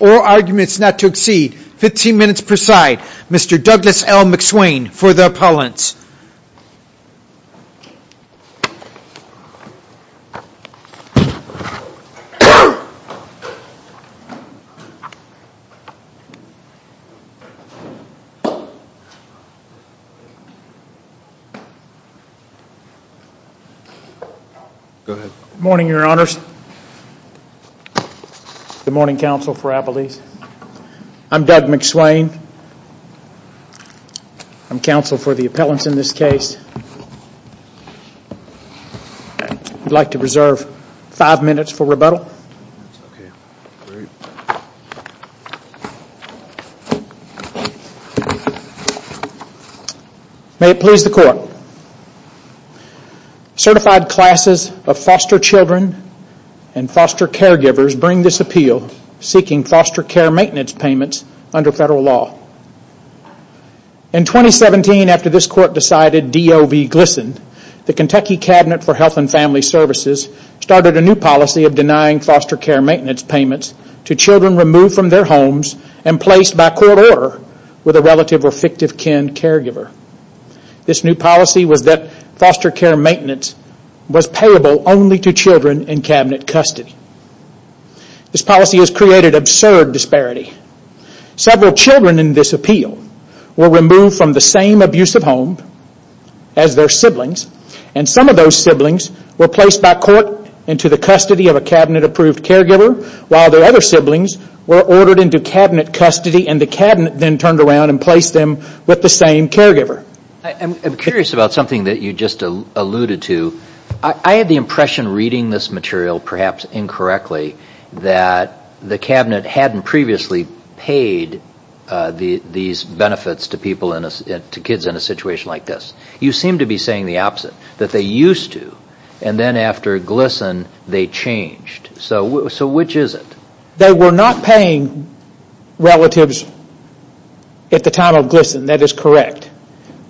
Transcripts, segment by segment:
Oral arguments not to exceed 15 minutes per side. Mr. Douglas L. McSwain for the appellants. Good morning, your honors. Good morning, counsel for Appalachia. I'm Doug McSwain. I'm counsel for the appellants in this case. I'd like to reserve 5 minutes for rebuttal. May it please the court. Certified classes of foster children and foster caregivers bring this court decided D.O.V. glistened, the Kentucky Cabinet for Health and Family Services started a new policy of denying foster care maintenance payments to children removed from their homes and placed by court order with a relative or fictive kin caregiver. This new policy was that foster care maintenance was payable only to children in cabinet custody. This policy has created absurd disparity. Several children in this appeal were removed from the same abusive home as their siblings and some of those siblings were placed by court into the custody of a cabinet approved caregiver while their other siblings were ordered into cabinet custody and the cabinet then turned around and placed them with the same caregiver. I'm curious about something that you just alluded to. I had the impression reading this material perhaps incorrectly that the cabinet hadn't previously paid these benefits to people in a situation like this. You seem to be saying the opposite, that they used to and then after glisten they changed. Which is it? They were not paying relatives at the time of glisten, that is correct.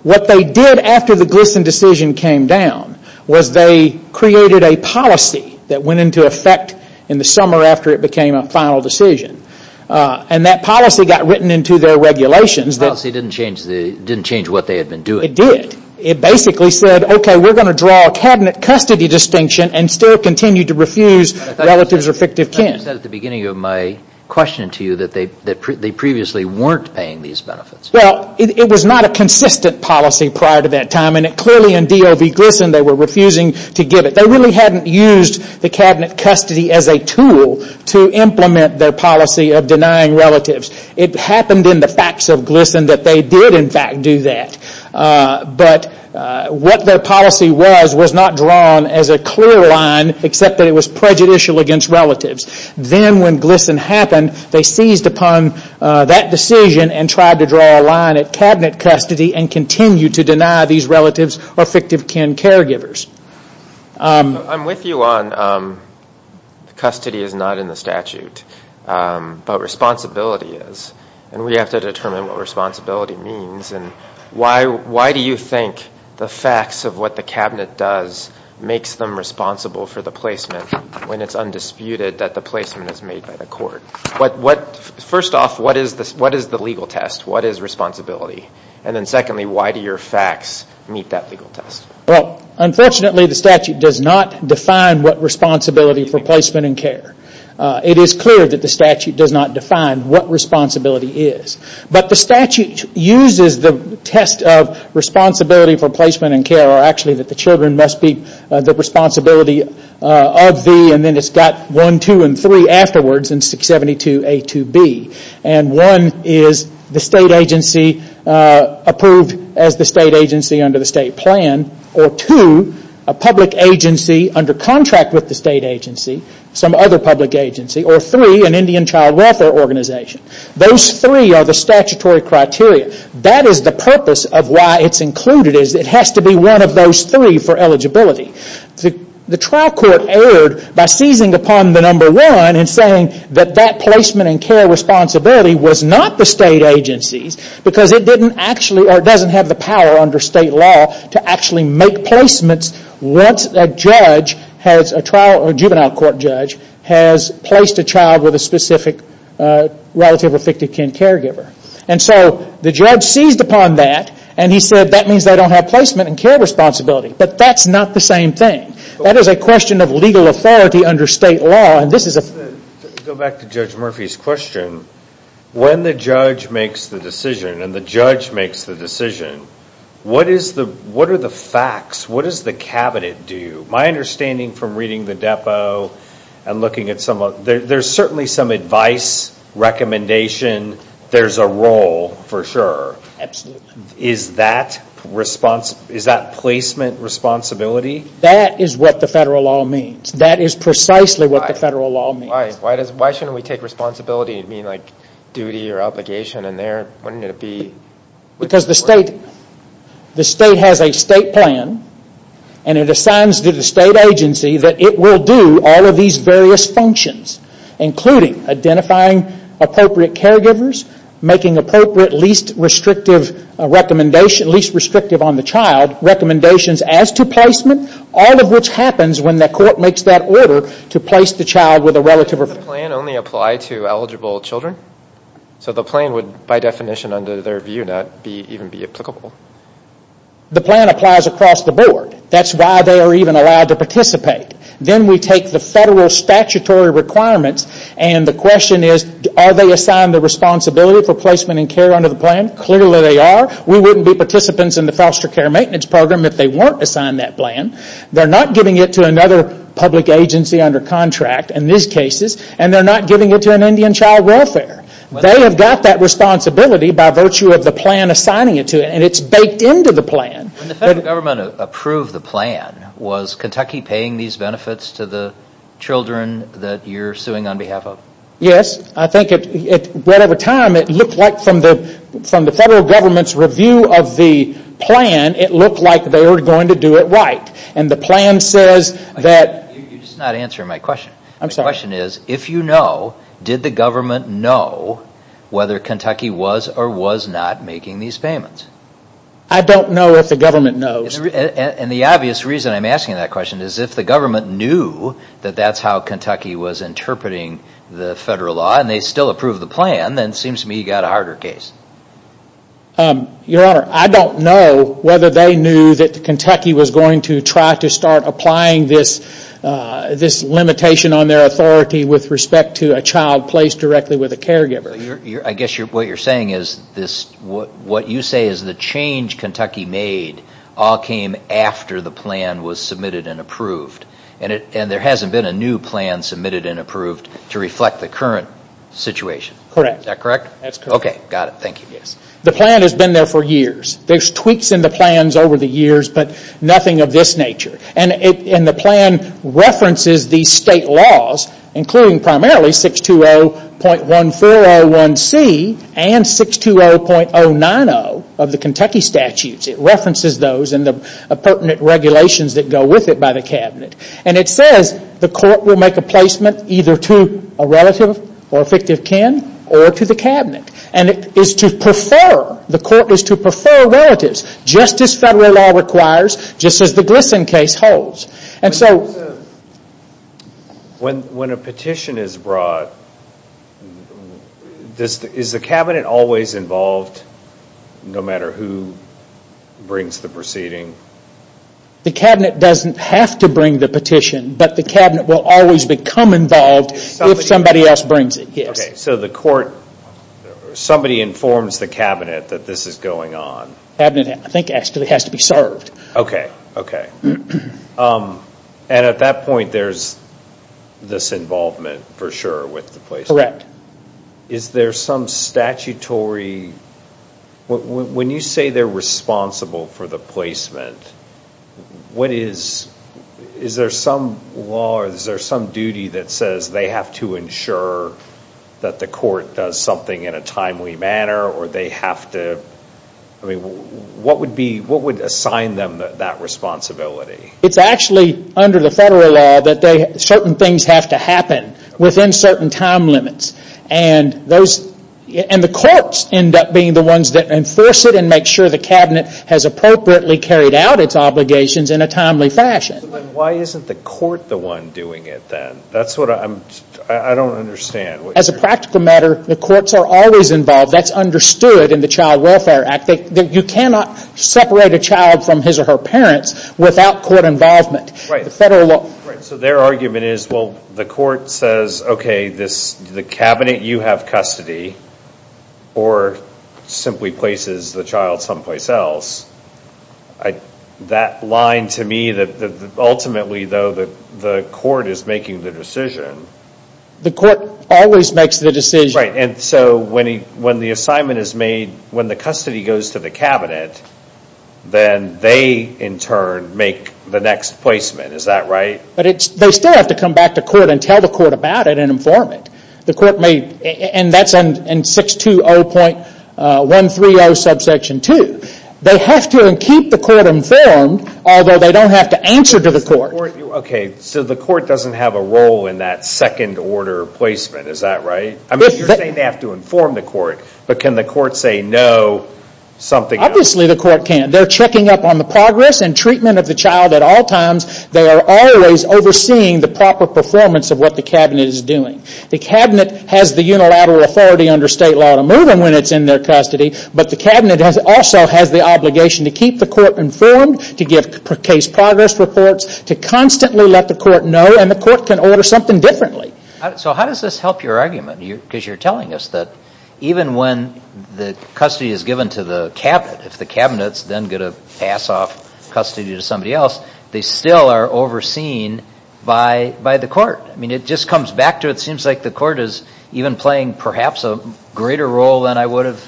What they did after the glisten decision came down was they created a policy that went into effect in the summer after it became a final decision. That policy got written into their regulations. That policy didn't change what they had been doing. It did. It basically said, okay, we're going to draw a cabinet custody distinction and still continue to refuse relatives or fictive kin. I thought you said at the beginning of my question to you that they previously weren't paying these benefits. It was not a consistent policy prior to that time and clearly in DOV glisten they were refusing to give it. They really hadn't used the cabinet custody as a tool to implement their policy of denying relatives. It happened in the facts of glisten that they did in fact do that. What their policy was, was not drawn as a clear line except that it was prejudicial against relatives. Then when glisten happened, they seized upon that decision and tried to draw a line at cabinet custody and continue to deny these relatives or fictive kin caregivers. I'm with you on custody is not in the statute, but responsibility is. We have to determine what responsibility means. Why do you think the facts of what the cabinet does makes them responsible for the placement when it's undisputed that the placement is made by the court? First off, what is the legal test? What is responsibility? Secondly, why do your facts meet that legal test? Unfortunately, the statute does not define what responsibility for placement and care. It is clear that the statute does not define what responsibility is, but the statute uses the test of responsibility for placement and care or actually that the children must be the responsibility of the and then it's got one, two, and three afterwards in 672A2B. One is the state agency approved as the state agency under the state plan or two, a public agency under contract with the state agency, some other public agency, or three, an Indian child welfare organization. Those three are the statutory criteria. That is the purpose of why it's included. It has to be one of those three for eligibility. The trial court erred by seizing upon the number one and saying that that placement and care responsibility was not the state agency's because it doesn't have the power under state law to actually make placements once a juvenile court judge has placed a child with a specific relative or fictive kin caregiver. The judge seized upon that and he said that means they don't have placement and care responsibility, but that's not the same thing. That is a question of legal authority under state law and this is a... Go back to Judge Murphy's question. When the judge makes the decision and the judge makes the decision, what are the facts? What does the cabinet do? My understanding from reading the depot and looking at some of... There's certainly some advice, recommendation, there's a role for sure. Is that placement responsibility? That is what the federal law means. That is precisely what the federal law means. Why shouldn't we take responsibility and mean like duty or obligation and there wouldn't it be... Because the state has a state plan and it assigns to the state agency that it will do all of these various functions, including identifying appropriate caregivers, making appropriate least restrictive recommendations, least restrictive on the child, recommendations as to placement, all of which happens when the court makes that order to place the child with a relative or... Does the plan only apply to eligible children? So the plan would by definition under their view not even be applicable? The plan applies across the board. That's why they are even allowed to participate. Then we take the federal statutory requirements and the question is, are they assigned the responsibility for placement and care under the plan? Clearly they are. We wouldn't be participants in the foster care maintenance program if they weren't assigned that plan. They're not giving it to another public agency under contract in these cases and they're not giving it to an Indian child welfare. They have got that responsibility by virtue of the plan assigning it to them and it's baked into the plan. When the federal government approved the plan, was Kentucky paying these benefits to the children that you're suing on behalf of? Yes. I think right at the time it looked like from the federal government's review of the plan it looked like they were going to do it right. And the plan says that... You're just not answering my question. I'm sorry. My question is, if you know, did the government know whether Kentucky was or was not making these payments? I don't know if the government knows. And the obvious reason I'm asking that question is if the government knew that that's how Kentucky was interpreting the federal law and they still approve the plan, then it seems to me you've got a harder case. Your Honor, I don't know whether they knew that Kentucky was going to try to start applying this limitation on their authority with respect to a child placed directly with a caregiver. I guess what you're saying is, what you say is the change Kentucky made all came after the plan was submitted and approved. And there hasn't been a new plan submitted and approved to reflect the current situation. Correct. Is that correct? That's correct. Okay. Got it. Thank you. The plan has been there for years. There's tweaks in the plans over the years, but nothing of this nature. And the plan references the state laws, including primarily 620.1401C and 620.090 of the Kentucky statutes. It references those and the pertinent regulations that go with it by the cabinet. And it says the court will make a placement either to a relative or a fictive kin or to the cabinet. And it is to prefer, the court is to prefer relatives, just as federal law requires, just as the Gleason case holds. When a petition is brought, is the cabinet always involved no matter who brings the proceeding? The cabinet doesn't have to bring the petition, but the cabinet will always become involved if somebody else brings it, yes. Somebody informs the cabinet that this is going on. The cabinet, I think, actually has to be served. Okay. And at that point, there's this involvement for sure with the placement. Correct. Is there some statutory... When you say they're responsible for the placement, is there some law or is there some duty that says they have to ensure that the court does something in a timely manner or they have to... What would assign them that responsibility? It's actually under the federal law that certain things have to happen within certain time limits and the courts end up being the ones that enforce it and make sure the cabinet has appropriately carried out its obligations in a timely fashion. Why isn't the court the one doing it then? That's what I'm... I don't understand. As a practical matter, the courts are always involved. That's understood in the Child Welfare Act. You cannot separate a child from his or her parents without court involvement. Their argument is, well, the court says, okay, the cabinet, you have custody or simply places the child someplace else. That line to me that ultimately, though, the court is making the decision. The court always makes the decision. When the assignment is made, when the custody goes to the cabinet, then they, in turn, make the next placement. Is that right? They still have to come back to court and tell the court about it and inform it. That's in 620.130 subsection 2. They have to keep the court informed, although they don't have to answer to the court. Okay, so the court doesn't have a role in that second order placement. Is that right? I mean, you're saying they have to inform the court, but can the court say, no, something else? Obviously the court can't. They're checking up on the progress and treatment of the child at all times. They are always overseeing the proper performance of what the cabinet is doing. The cabinet has the unilateral authority under state law to move them when it's in their custody, but the cabinet also has the obligation to keep the court informed, to give case progress reports, to constantly let the court know, and the court can order something differently. So how does this help your argument? Because you're telling us that even when the custody is given to the cabinet, if the cabinet's then going to pass off custody to somebody else, they still are overseen by the court. I mean, it just comes back to it seems like the court is even playing perhaps a greater role than I would have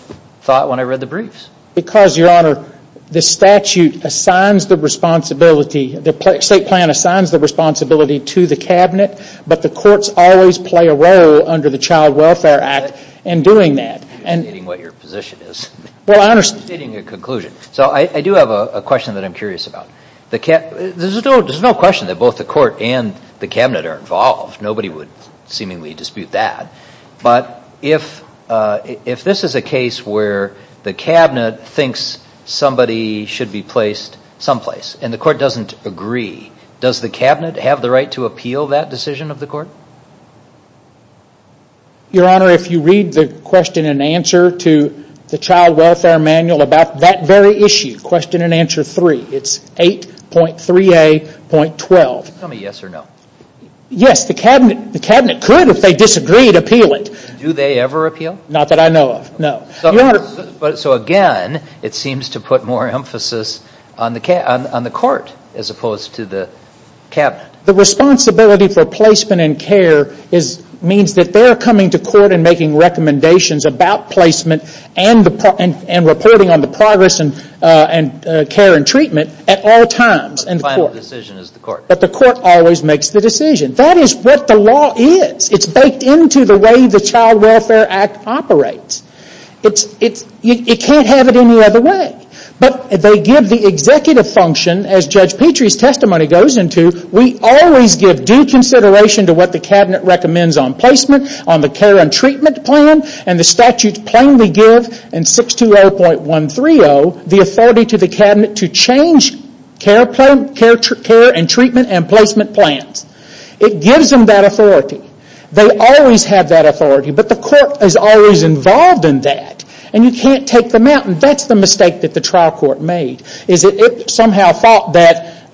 thought when I read the briefs. Because, Your Honor, the statute assigns the responsibility, the state plan assigns the responsibility to the cabinet, but the courts always play a role under the Child Welfare Act in doing that. You're stating what your position is. Well, I understand. You're stating a conclusion. So I do have a question that I'm curious about. There's no question that both the court and the cabinet are involved. Nobody would seemingly dispute that. But if this is a case where the cabinet thinks somebody should be placed someplace and the court doesn't agree, does the cabinet have the right to appeal that decision of the court? Your Honor, if you read the question and answer to the Child Welfare Manual about that very issue, question and answer three, it's 8.3a.12. Tell me yes or no. Yes, the cabinet could, if they disagreed, appeal it. Do they ever appeal? Not that I know of, no. So again, it seems to put more emphasis on the court as opposed to the cabinet. The responsibility for placement and care means that they're coming to court and making recommendations about placement and reporting on the progress and care and treatment at all times. But the final decision is the court. The court always makes the decision. That is what the law is. It's baked into the way the Child Welfare Act operates. You can't have it any other way. But they give the executive function, as Judge Petrie's testimony goes into, we always give due consideration to what the cabinet recommends on placement, on the care and treatment plan, and the statutes plainly give in 620.130 the authority to the cabinet to change care and treatment and placement plans. It gives them that authority. They always have that authority, but the court is always involved in that, and you can't take them out. That's the mistake that the trial court made, is that it somehow thought that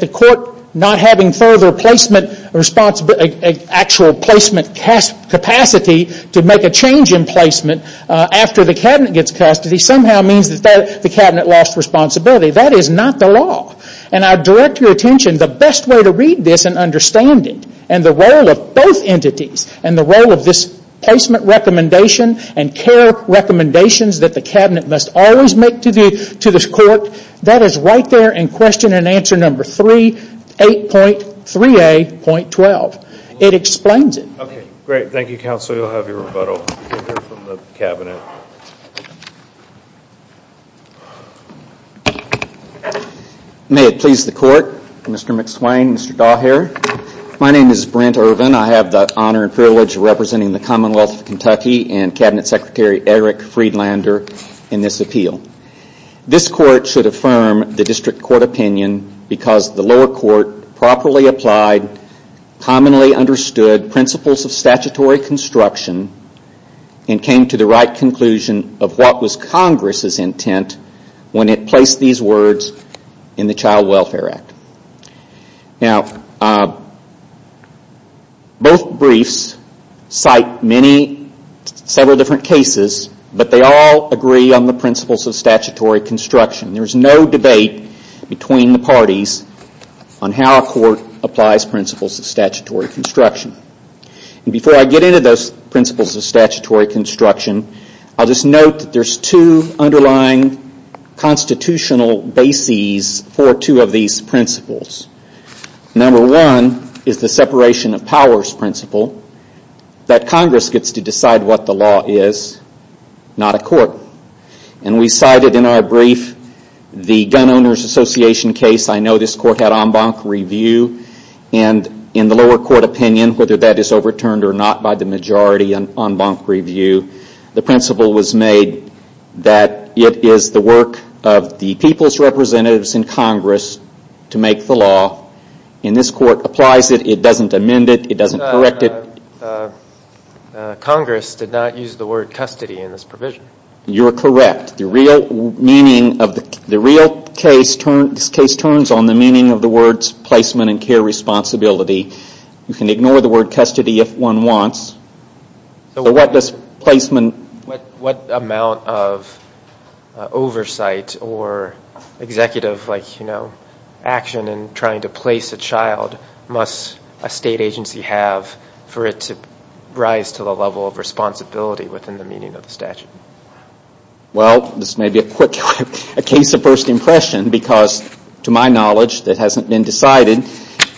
the court not having further placement responsibility, actual placement capacity to make a change in placement after the cabinet gets custody, somehow means that the cabinet lost responsibility. That is not the law. I direct your attention, the best way to read this and understand it, and the role of both entities, and the role of this placement recommendation and care recommendations that the cabinet must always make to this court, that is right there in question and answer number 3, 8.3a.12. It explains it. Okay, great. Thank you, counsel. You'll have your rebuttal. We'll hear from the cabinet. May it please the court, Mr. McSwain, Mr. Daugherty. My name is Brent Ervin. I have the honor and privilege of representing the Commonwealth of Kentucky and Cabinet Secretary Eric Friedlander in this appeal. This court should affirm the district court opinion because the lower court properly applied, commonly understood principles of statutory construction and came to the right conclusion of what was Congress's intent when it placed these words in the Child Welfare Act. Now, both briefs cite several different cases, but they all agree on the principles of statutory construction. There's no debate between the parties on how a court applies principles of statutory construction. Before I get into those principles of statutory construction, I'll just note that there's two underlying constitutional bases for two of these principles. Number one is the separation of powers principle that Congress gets to decide what the law is, not a court. We cited in our brief the Gun Owners Association case. I know this court had en banc review. In the lower court opinion, whether that is overturned or not by the majority on en banc review, the principle was made that it is the work of the people's representatives in Congress to make the law. This court applies it. It doesn't amend it. It doesn't correct it. But Congress did not use the word custody in this provision. You're correct. The real case turns on the meaning of the words placement and care responsibility. You can ignore the word custody if one wants. What amount of oversight or executive action in trying to place a child must a state agency have for it to rise to the level of responsibility within the meaning of the statute? This may be a quick case of first impression because, to my knowledge, that hasn't been decided.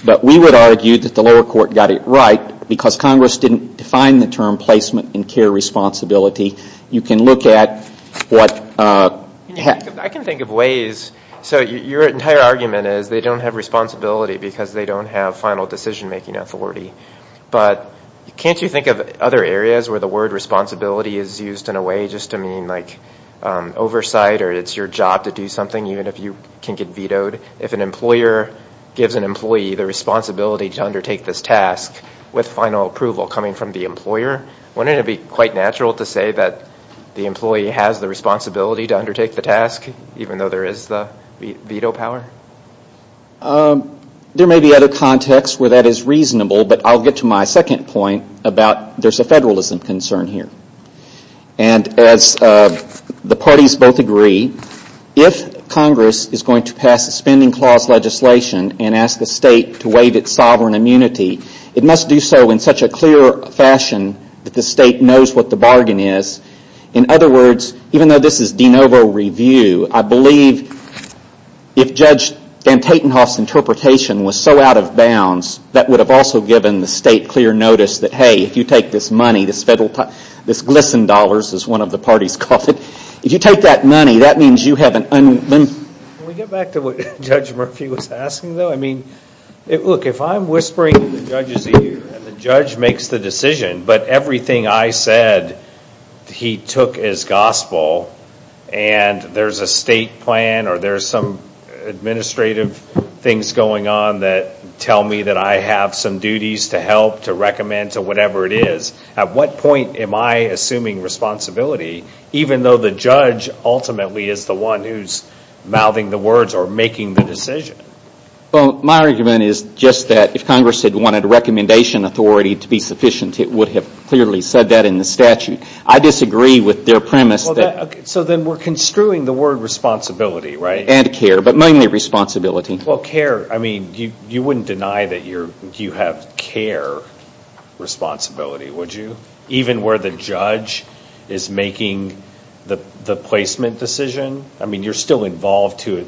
But we would argue that the lower court got it right because Congress didn't define the term placement and care responsibility. You can look at what... I can think of ways. Your entire argument is they don't have responsibility because they don't have final decision making authority. But can't you think of other areas where the word responsibility is used in a way just to mean oversight or it's your job to do something even if you can get vetoed? If an employer gives an employee the responsibility to undertake this task with final approval coming from the employer, wouldn't it be quite natural to say that the employee has the responsibility to undertake the task even though there is the veto power? There may be other contexts where that is reasonable, but I'll get to my second point about there's a federalism concern here. And as the parties both agree, if Congress is going to pass a spending clause legislation and ask the state to waive its sovereign immunity, it must do so in such a clear fashion that the state knows what the bargain is. In other words, even though this is de novo review, I believe if Judge Van Tatenhoff's interpretation was so out of bounds, that would have also given the state clear notice that, hey, if you take this money, this glisten dollars, as one of the parties called it, if you take that money, that means you have an unlimited... Can we get back to what Judge Murphy was asking though? If I'm whispering to the judges here and the judge makes the decision, but everything I he took as gospel, and there's a state plan or there's some administrative things going on that tell me that I have some duties to help to recommend to whatever it is, at what point am I assuming responsibility even though the judge ultimately is the one who's mouthing the words or making the decision? My argument is just that if Congress had wanted a recommendation authority to be sufficient, it would have clearly said that in the statute. I disagree with their premise that... So then we're construing the word responsibility, right? And care, but mainly responsibility. Well, care, I mean, you wouldn't deny that you have care responsibility, would you? Even where the judge is making the placement decision? I mean, you're still involved to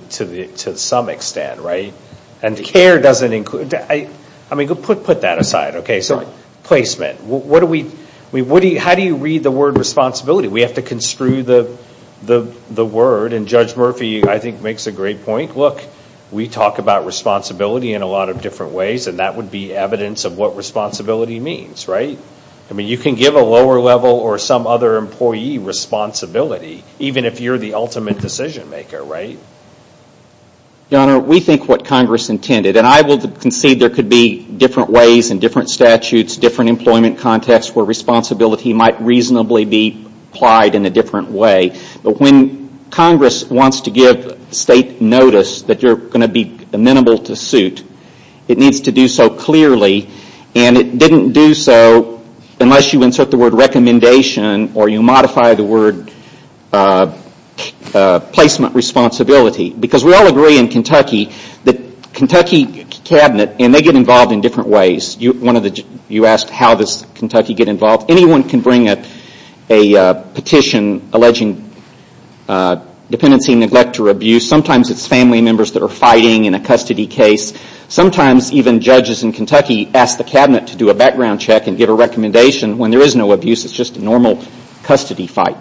some extent, right? And care doesn't include... I mean, put that aside, okay? So placement. What do we... How do you read the word responsibility? We have to construe the word, and Judge Murphy, I think, makes a great point. Look, we talk about responsibility in a lot of different ways, and that would be evidence of what responsibility means, right? I mean, you can give a lower level or some other employee responsibility even if you're the ultimate decision maker, right? Your Honor, we think what Congress intended, and I will concede there could be different ways and different statutes, different employment contexts where responsibility might reasonably be applied in a different way, but when Congress wants to give state notice that you're going to be amenable to suit, it needs to do so clearly, and it didn't do so unless you insert the word recommendation or you modify the word placement responsibility. Because we all agree in Kentucky that Kentucky cabinet, and they get involved in different ways. You asked how does Kentucky get involved. Anyone can bring a petition alleging dependency, neglect, or abuse. Sometimes it's family members that are fighting in a custody case. Sometimes even judges in Kentucky ask the cabinet to do a background check and give a recommendation when there is no abuse. It's just a normal custody fight.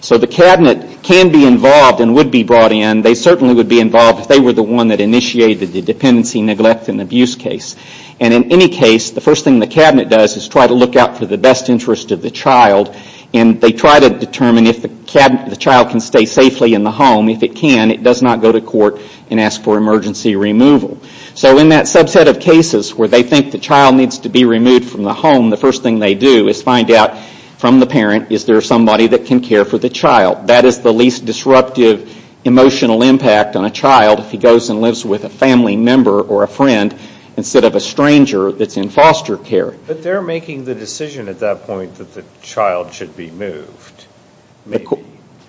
So the cabinet can be involved and would be brought in. And they certainly would be involved if they were the one that initiated the dependency, neglect, and abuse case. And in any case, the first thing the cabinet does is try to look out for the best interest of the child, and they try to determine if the child can stay safely in the home. If it can, it does not go to court and ask for emergency removal. So in that subset of cases where they think the child needs to be removed from the home, the first thing they do is find out from the parent is there somebody that can care for the child. That is the least disruptive emotional impact on a child if he goes and lives with a family member or a friend instead of a stranger that's in foster care. But they're making the decision at that point that the child should be moved.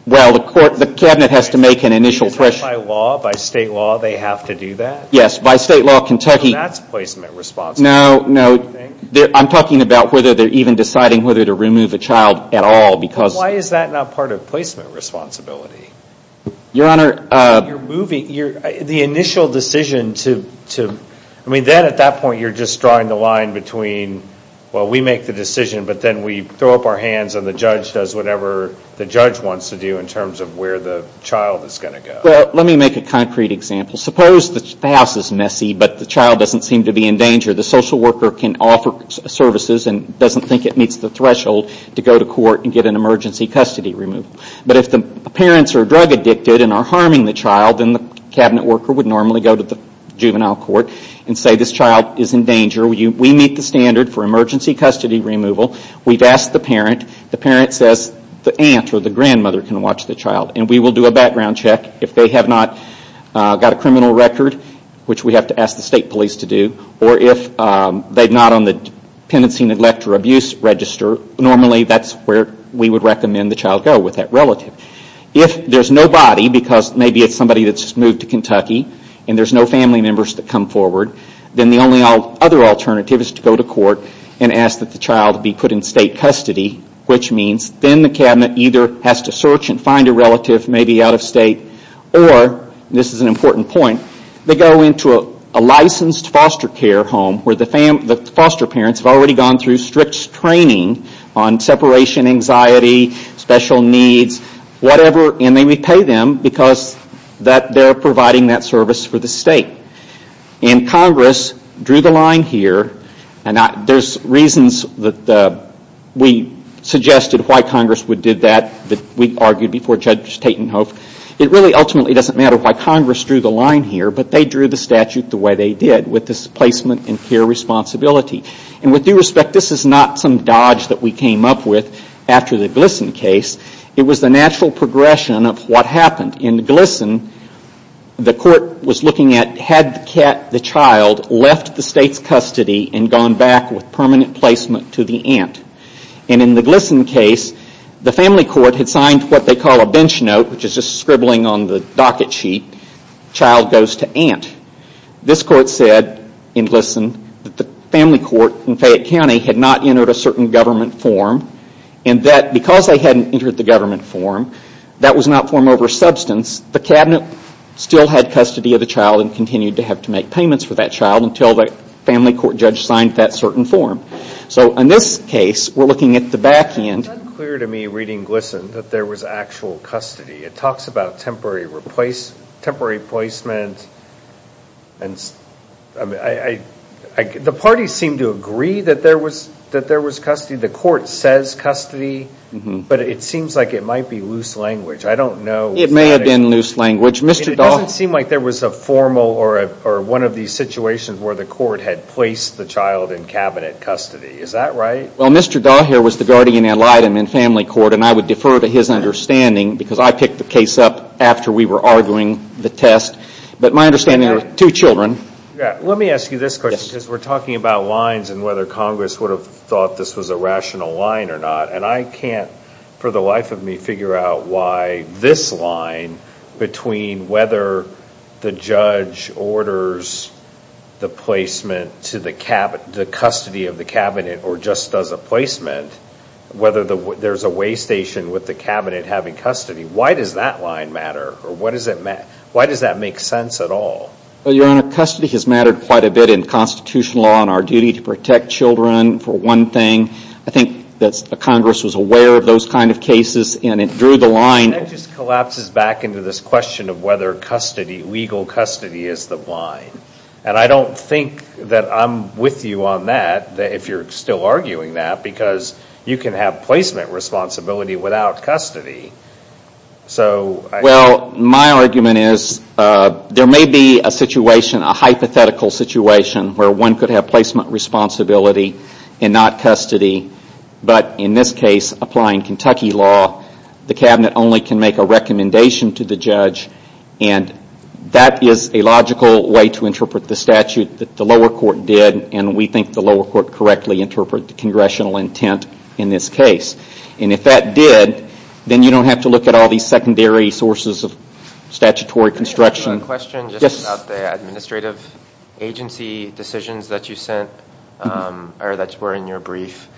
Well, the cabinet has to make an initial decision. Is that by law? By state law, they have to do that? Yes, by state law. And that's placement responsibility, you think? No, no. I'm talking about whether they're even deciding whether to remove a child at all because Why is that not part of placement responsibility? Your Honor, You're moving, the initial decision to, I mean then at that point you're just drawing the line between, well we make the decision but then we throw up our hands and the judge does whatever the judge wants to do in terms of where the child is going to go. Let me make a concrete example. Suppose the house is messy but the child doesn't seem to be in danger. The social worker can offer services and doesn't think it meets the threshold to go to court and get an emergency custody removal. But if the parents are drug addicted and are harming the child, then the cabinet worker would normally go to the juvenile court and say this child is in danger. We meet the standard for emergency custody removal. We've asked the parent. The parent says the aunt or the grandmother can watch the child and we will do a background check if they have not got a criminal record, which we have to ask the state police to do, or if they are not on the dependency, neglect, or abuse register, normally that is where we would recommend the child go with that relative. If there is no body, because maybe it is somebody that has just moved to Kentucky and there is no family members that come forward, then the only other alternative is to go to court and ask that the child be put in state custody, which means then the cabinet either has to search and find a relative, maybe out of state, or, this is an important point, they go into a licensed foster care home where the foster parents have already gone through strict training on separation anxiety, special needs, whatever, and they repay them because they are providing that service for the state. Congress drew the line here, and there are reasons that we suggested why Congress would do that, that we argued before Judge Tatenhoff, it really ultimately doesn't matter why Congress drew the line here, but they drew the statute the way they did, with this placement and care responsibility, and with due respect, this is not some dodge that we came up with after the Gleason case, it was the natural progression of what happened. In Gleason, the court was looking at, had the child left the state's custody and gone back with permanent placement to the aunt, and in the Gleason case, the family court had signed what they call a bench note, which is just scribbling on the docket sheet, child goes to aunt. This court said, in Gleason, that the family court in Fayette County had not entered a certain government form, and that because they hadn't entered the government form, that was not form over substance, the cabinet still had custody of the child and continued to have to make payments for that child until the family court judge signed that certain form. So in this case, we're looking at the back end. It's unclear to me, reading Gleason, that there was actual custody. It talks about temporary replacement, and the parties seem to agree that there was custody, the court says custody, but it seems like it might be loose language. I don't know. It may have been loose language. It doesn't seem like there was a formal, or one of these situations where the court had placed the child in cabinet custody. Is that right? Well, Mr. Daugherty was the guardian ad litem in family court, and I would defer to his understanding because I picked the case up after we were arguing the test. But my understanding is there were two children. Let me ask you this question, because we're talking about lines and whether Congress would have thought this was a rational line or not, and I can't, for the life of me, figure out why this line between whether the judge orders the placement to the custody of the cabinet or just does a placement, whether there's a way station with the cabinet having custody, why does that line matter, or why does that make sense at all? Well, Your Honor, custody has mattered quite a bit in constitutional law and our duty to protect children, for one thing. I think that Congress was aware of those kinds of cases, and it drew the line. That just collapses back into this question of whether legal custody is the line, and I don't think that I'm with you on that, if you're still arguing that, because you can have placement responsibility without custody. Well, my argument is there may be a hypothetical situation where one could have placement responsibility and not custody, but in this case, applying Kentucky law, the cabinet only can make a recommendation to the judge, and that is a logical way to interpret the statute that the lower court did, and we think the lower court correctly interpreted the Congressional intent in this case, and if that did, then you don't have to look at all these secondary sources of statutory construction. I have a question just about the administrative agency decisions that you sent, or that were in your brief.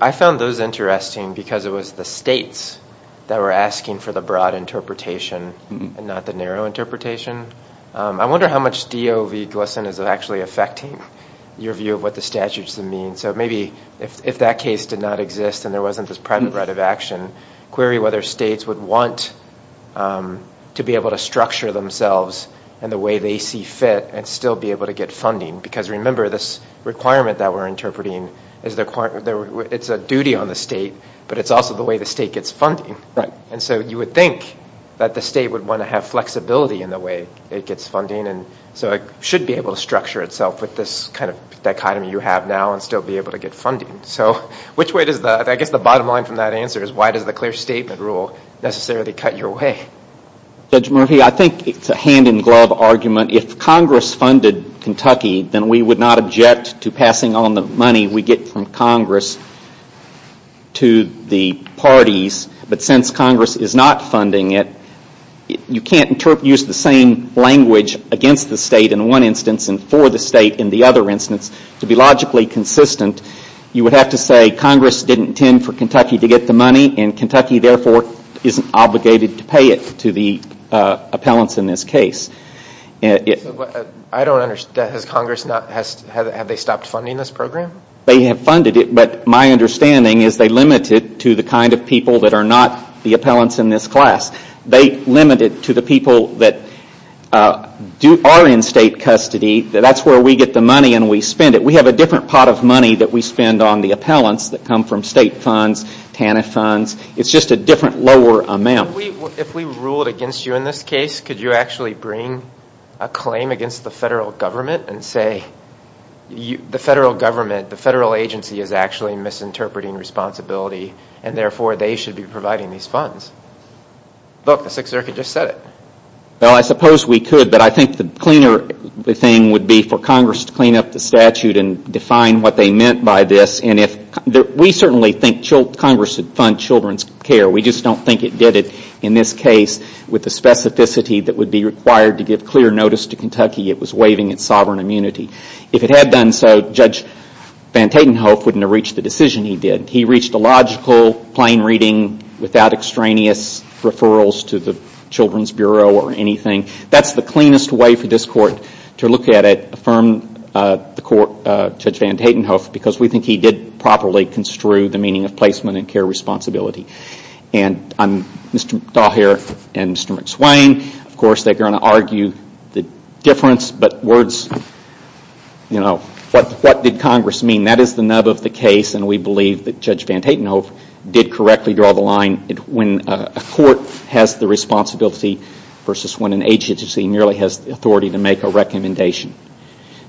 I found those interesting because it was the states that were asking for the broad interpretation and not the narrow interpretation. I wonder how much DOV Glesson is actually affecting your view of what the statute should mean, so maybe if that case did not exist and there wasn't this private right of action, query whether states would want to be able to structure themselves in the way they see fit and still be able to get funding, because remember, this requirement that we're interpreting, it's a duty on the state, but it's also the way the state gets funding, and so you would think that the state would want to have flexibility in the way it gets funding, and so it should be able to structure itself with this kind of dichotomy you have now and still be able to get funding. Which way does the, I guess the bottom line from that answer is, why does the clear statement rule necessarily cut your way? Judge Murphy, I think it's a hand in glove argument. If Congress funded Kentucky, then we would not object to passing on the money we get from Congress to the parties, but since Congress is not funding it, you can't use the same language against the state in one instance and for the state in the other instance. To be logically consistent, you would have to say Congress didn't intend for Kentucky to get the money, and Kentucky therefore isn't obligated to pay it to the appellants in this case. I don't understand, has Congress not, have they stopped funding this program? They have funded it, but my understanding is they limit it to the kind of people that are not the appellants in this class. They limit it to the people that are in state custody, that's where we get the money and we spend it. We have a different pot of money that we spend on the appellants that come from state funds, TANF funds, it's just a different lower amount. If we ruled against you in this case, could you actually bring a claim against the federal government and say, the federal government, the federal agency is actually misinterpreting responsibility and therefore they should be providing these funds? Look, the Sixth Circuit just said it. Well, I suppose we could, but I think the cleaner thing would be for Congress to clean up the statute and define what they meant by this. We certainly think Congress should fund children's care, we just don't think it did it in this case with the specificity that would be required to give clear notice to Kentucky it was waiving its sovereign immunity. If it had done so, Judge Van Tatenhove wouldn't have reached the decision he did. He reached a logical, plain reading without extraneous referrals to the Children's Bureau or anything. That's the cleanest way for this Court to look at it, affirm the Court, Judge Van Tatenhove, because we think he did properly construe the meaning of placement and care responsibility. Mr. Dahl here and Mr. McSwain, of course, they're going to argue the difference, but words, you know, what did Congress mean? That is the nub of the case and we believe that Judge Van Tatenhove did correctly draw the line when a Court has the responsibility versus when an agency merely has the authority to make a recommendation.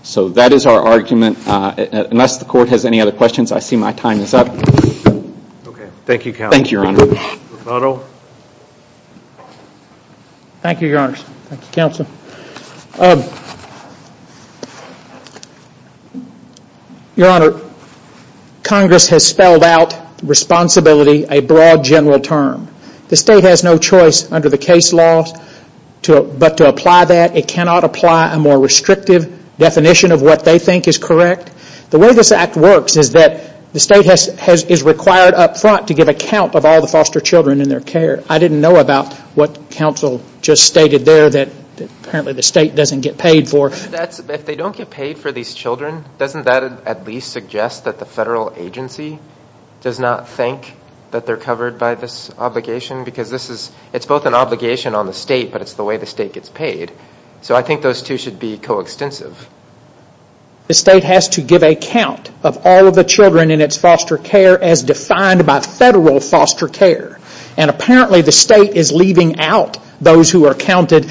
So that is our argument, unless the Court has any other questions, I see my time is up. Okay. Thank you, Counsel. Thank you, Your Honor. Thank you, Your Honors, thank you, Counsel. Your Honor, Congress has spelled out responsibility a broad general term. The State has no choice under the case law but to apply that. It cannot apply a more restrictive definition of what they think is correct. The way this Act works is that the State is required up front to give account of all the foster children and their care. I didn't know about what Counsel just stated there that apparently the State doesn't get paid for. If they don't get paid for these children, doesn't that at least suggest that the Federal Agency does not think that they're covered by this obligation? Because it's both an obligation on the State, but it's the way the State gets paid. So I think those two should be coextensive. The State has to give account of all of the children in its foster care as defined by the Federal Agency. Apparently the State is leaving out those who are counted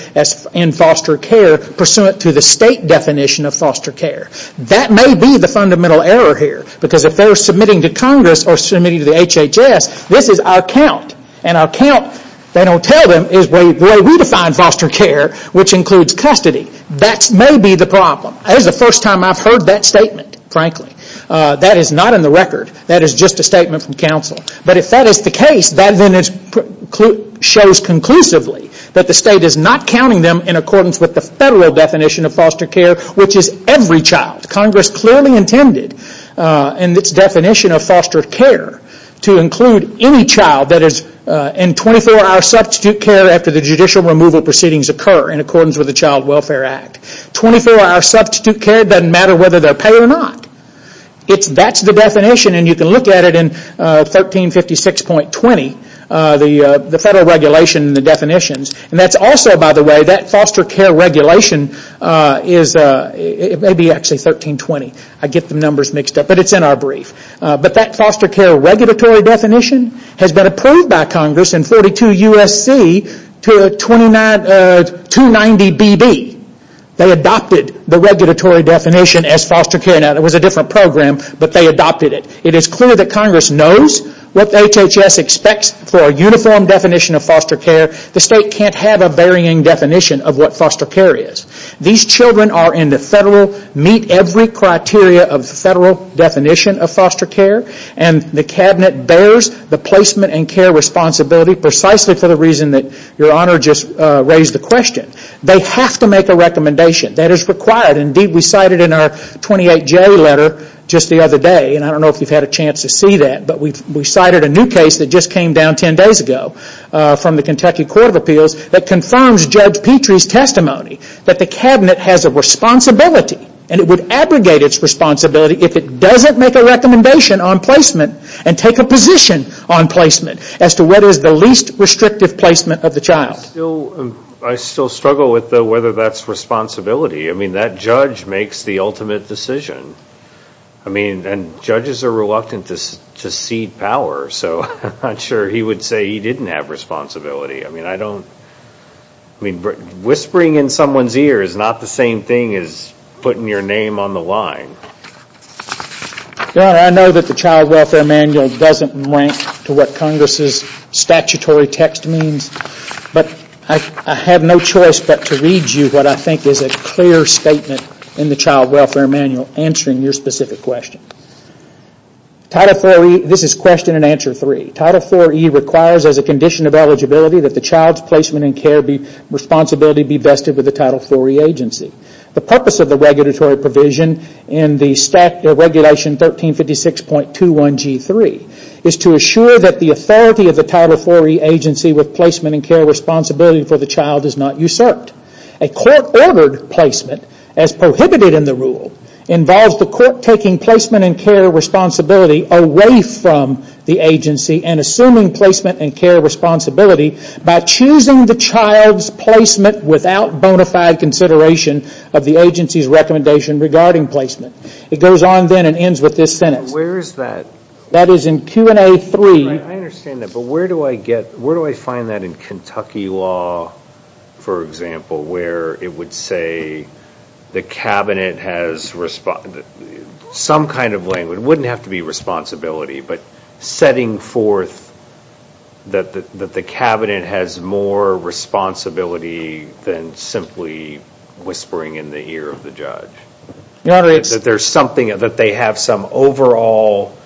in foster care pursuant to the State definition of foster care. That may be the fundamental error here, because if they're submitting to Congress or submitting to the HHS, this is our count, and our count, they don't tell them, is the way we define foster care, which includes custody. That may be the problem. That is the first time I've heard that statement, frankly. That is not in the record. That is just a statement from Counsel. But if that is the case, that then shows conclusively that the State is not counting them in accordance with the Federal definition of foster care, which is every child. Congress clearly intended in its definition of foster care to include any child that is in 24-hour substitute care after the judicial removal proceedings occur in accordance with the Child Welfare Act. 24-hour substitute care doesn't matter whether they're paid or not. That's the definition, and you can look at it in 1356.20, the Federal regulation and the definitions. That's also, by the way, that foster care regulation is, it may be actually 1320. I get the numbers mixed up, but it's in our brief. But that foster care regulatory definition has been approved by Congress in 42 U.S.C. to 290 BB. They adopted the regulatory definition as foster care. It was a different program, but they adopted it. It is clear that Congress knows what HHS expects for a uniform definition of foster care. The State can't have a varying definition of what foster care is. These children are in the Federal, meet every criteria of the Federal definition of foster care, and the Cabinet bears the placement and care responsibility precisely for the reason that Your Honor just raised the question. They have to make a recommendation. That is required. We cited in our 28J letter just the other day, and I don't know if you've had a chance to see that, but we cited a new case that just came down 10 days ago from the Kentucky Court of Appeals that confirms Judge Petrie's testimony that the Cabinet has a responsibility, and it would abrogate its responsibility if it doesn't make a recommendation on placement and take a position on placement as to what is the least restrictive placement of the child. I still struggle with whether that's responsibility. That judge makes the ultimate decision. Judges are reluctant to cede power, so I'm not sure he would say he didn't have responsibility. Whispering in someone's ear is not the same thing as putting your name on the line. Your Honor, I know that the Child Welfare Manual doesn't rank to what Congress's statutory text means, but I have no choice but to read you what I think is a clear statement in the Child Welfare Manual answering your specific question. This is question and answer three. Title IV-E requires, as a condition of eligibility, that the child's placement and care responsibility be vested with the Title IV-E agency. The purpose of the regulatory provision in the regulation 1356.21G3 is to assure that the authority of the Title IV-E agency with placement and care responsibility for the child is not usurped. A court-ordered placement, as prohibited in the rule, involves the court taking placement and care responsibility away from the agency and assuming placement and care responsibility by choosing the child's placement without bona fide consideration of the agency's recommendation regarding placement. It goes on then and ends with this sentence. Where is that? That is in Q&A 3. I understand that, but where do I get, where do I find that in Kentucky law, for example, where it would say the cabinet has, some kind of language, it wouldn't have to be responsibility, but setting forth that the cabinet has more responsibility than simply whispering in the ear of the judge. Your Honor, it's... That there's something, that they have some overall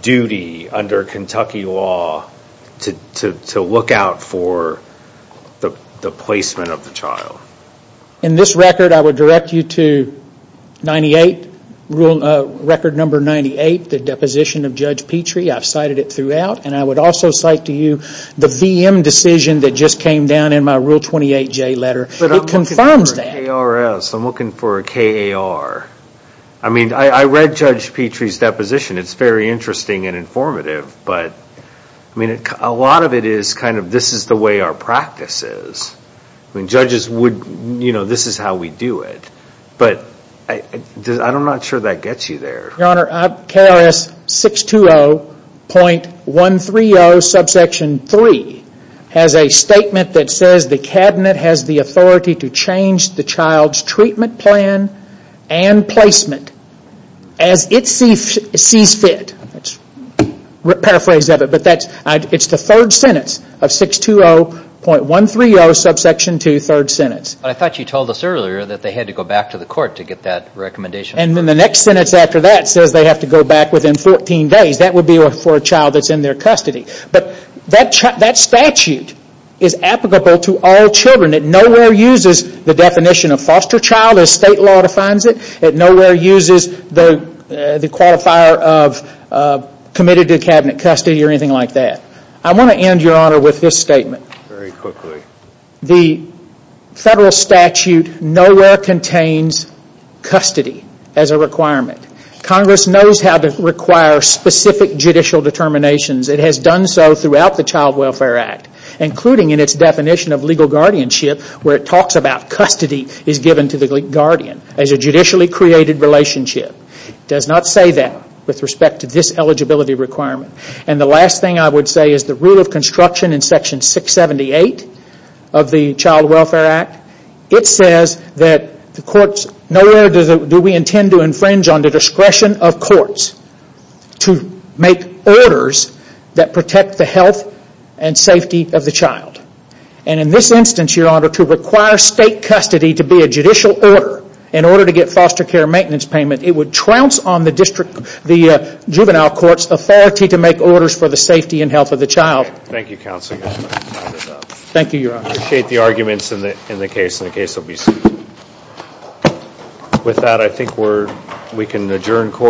duty under Kentucky law to look out for the placement of the child. In this record, I would direct you to 98, record number 98, the deposition of Judge Petrie. I've cited it throughout, and I would also cite to you the VM decision that just came down in my Rule 28J letter. It confirms that. I'm looking for a KRS. I'm looking for a KAR. I read Judge Petrie's deposition. It's very interesting and informative, but a lot of it is kind of, this is the way our practice is. Judges would, this is how we do it, but I'm not sure that gets you there. Your Honor, KRS 620.130 subsection 3 has a statement that says the cabinet has the authority to change the child's treatment plan and placement as it sees fit. Let's paraphrase that, but it's the third sentence of 620.130 subsection 2, third sentence. I thought you told us earlier that they had to go back to the court to get that recommendation. The next sentence after that says they have to go back within 14 days. That would be for a child that's in their custody, but that statute is applicable to all children. It nowhere uses the definition of foster child as state law defines it. It nowhere uses the qualifier of committed to cabinet custody or anything like that. I want to end, Your Honor, with this statement. The federal statute nowhere contains custody as a requirement. Congress knows how to require specific judicial determinations. It has done so throughout the Child Welfare Act, including in its definition of legal guardianship where it talks about custody is given to the guardian as a judicially created relationship. It does not say that with respect to this eligibility requirement. The last thing I would say is the rule of construction in section 678 of the Child Welfare Act. It says that nowhere do we intend to infringe on the discretion of courts to make orders that protect the health and safety of the child. In this instance, Your Honor, to require state custody to be a judicial order in order to get foster care maintenance payment, it would trounce on the juvenile court's authority to make orders for the safety and health of the child. Thank you, Counsel. I appreciate the arguments in the case. The case will be sued. With that, I think we can adjourn court.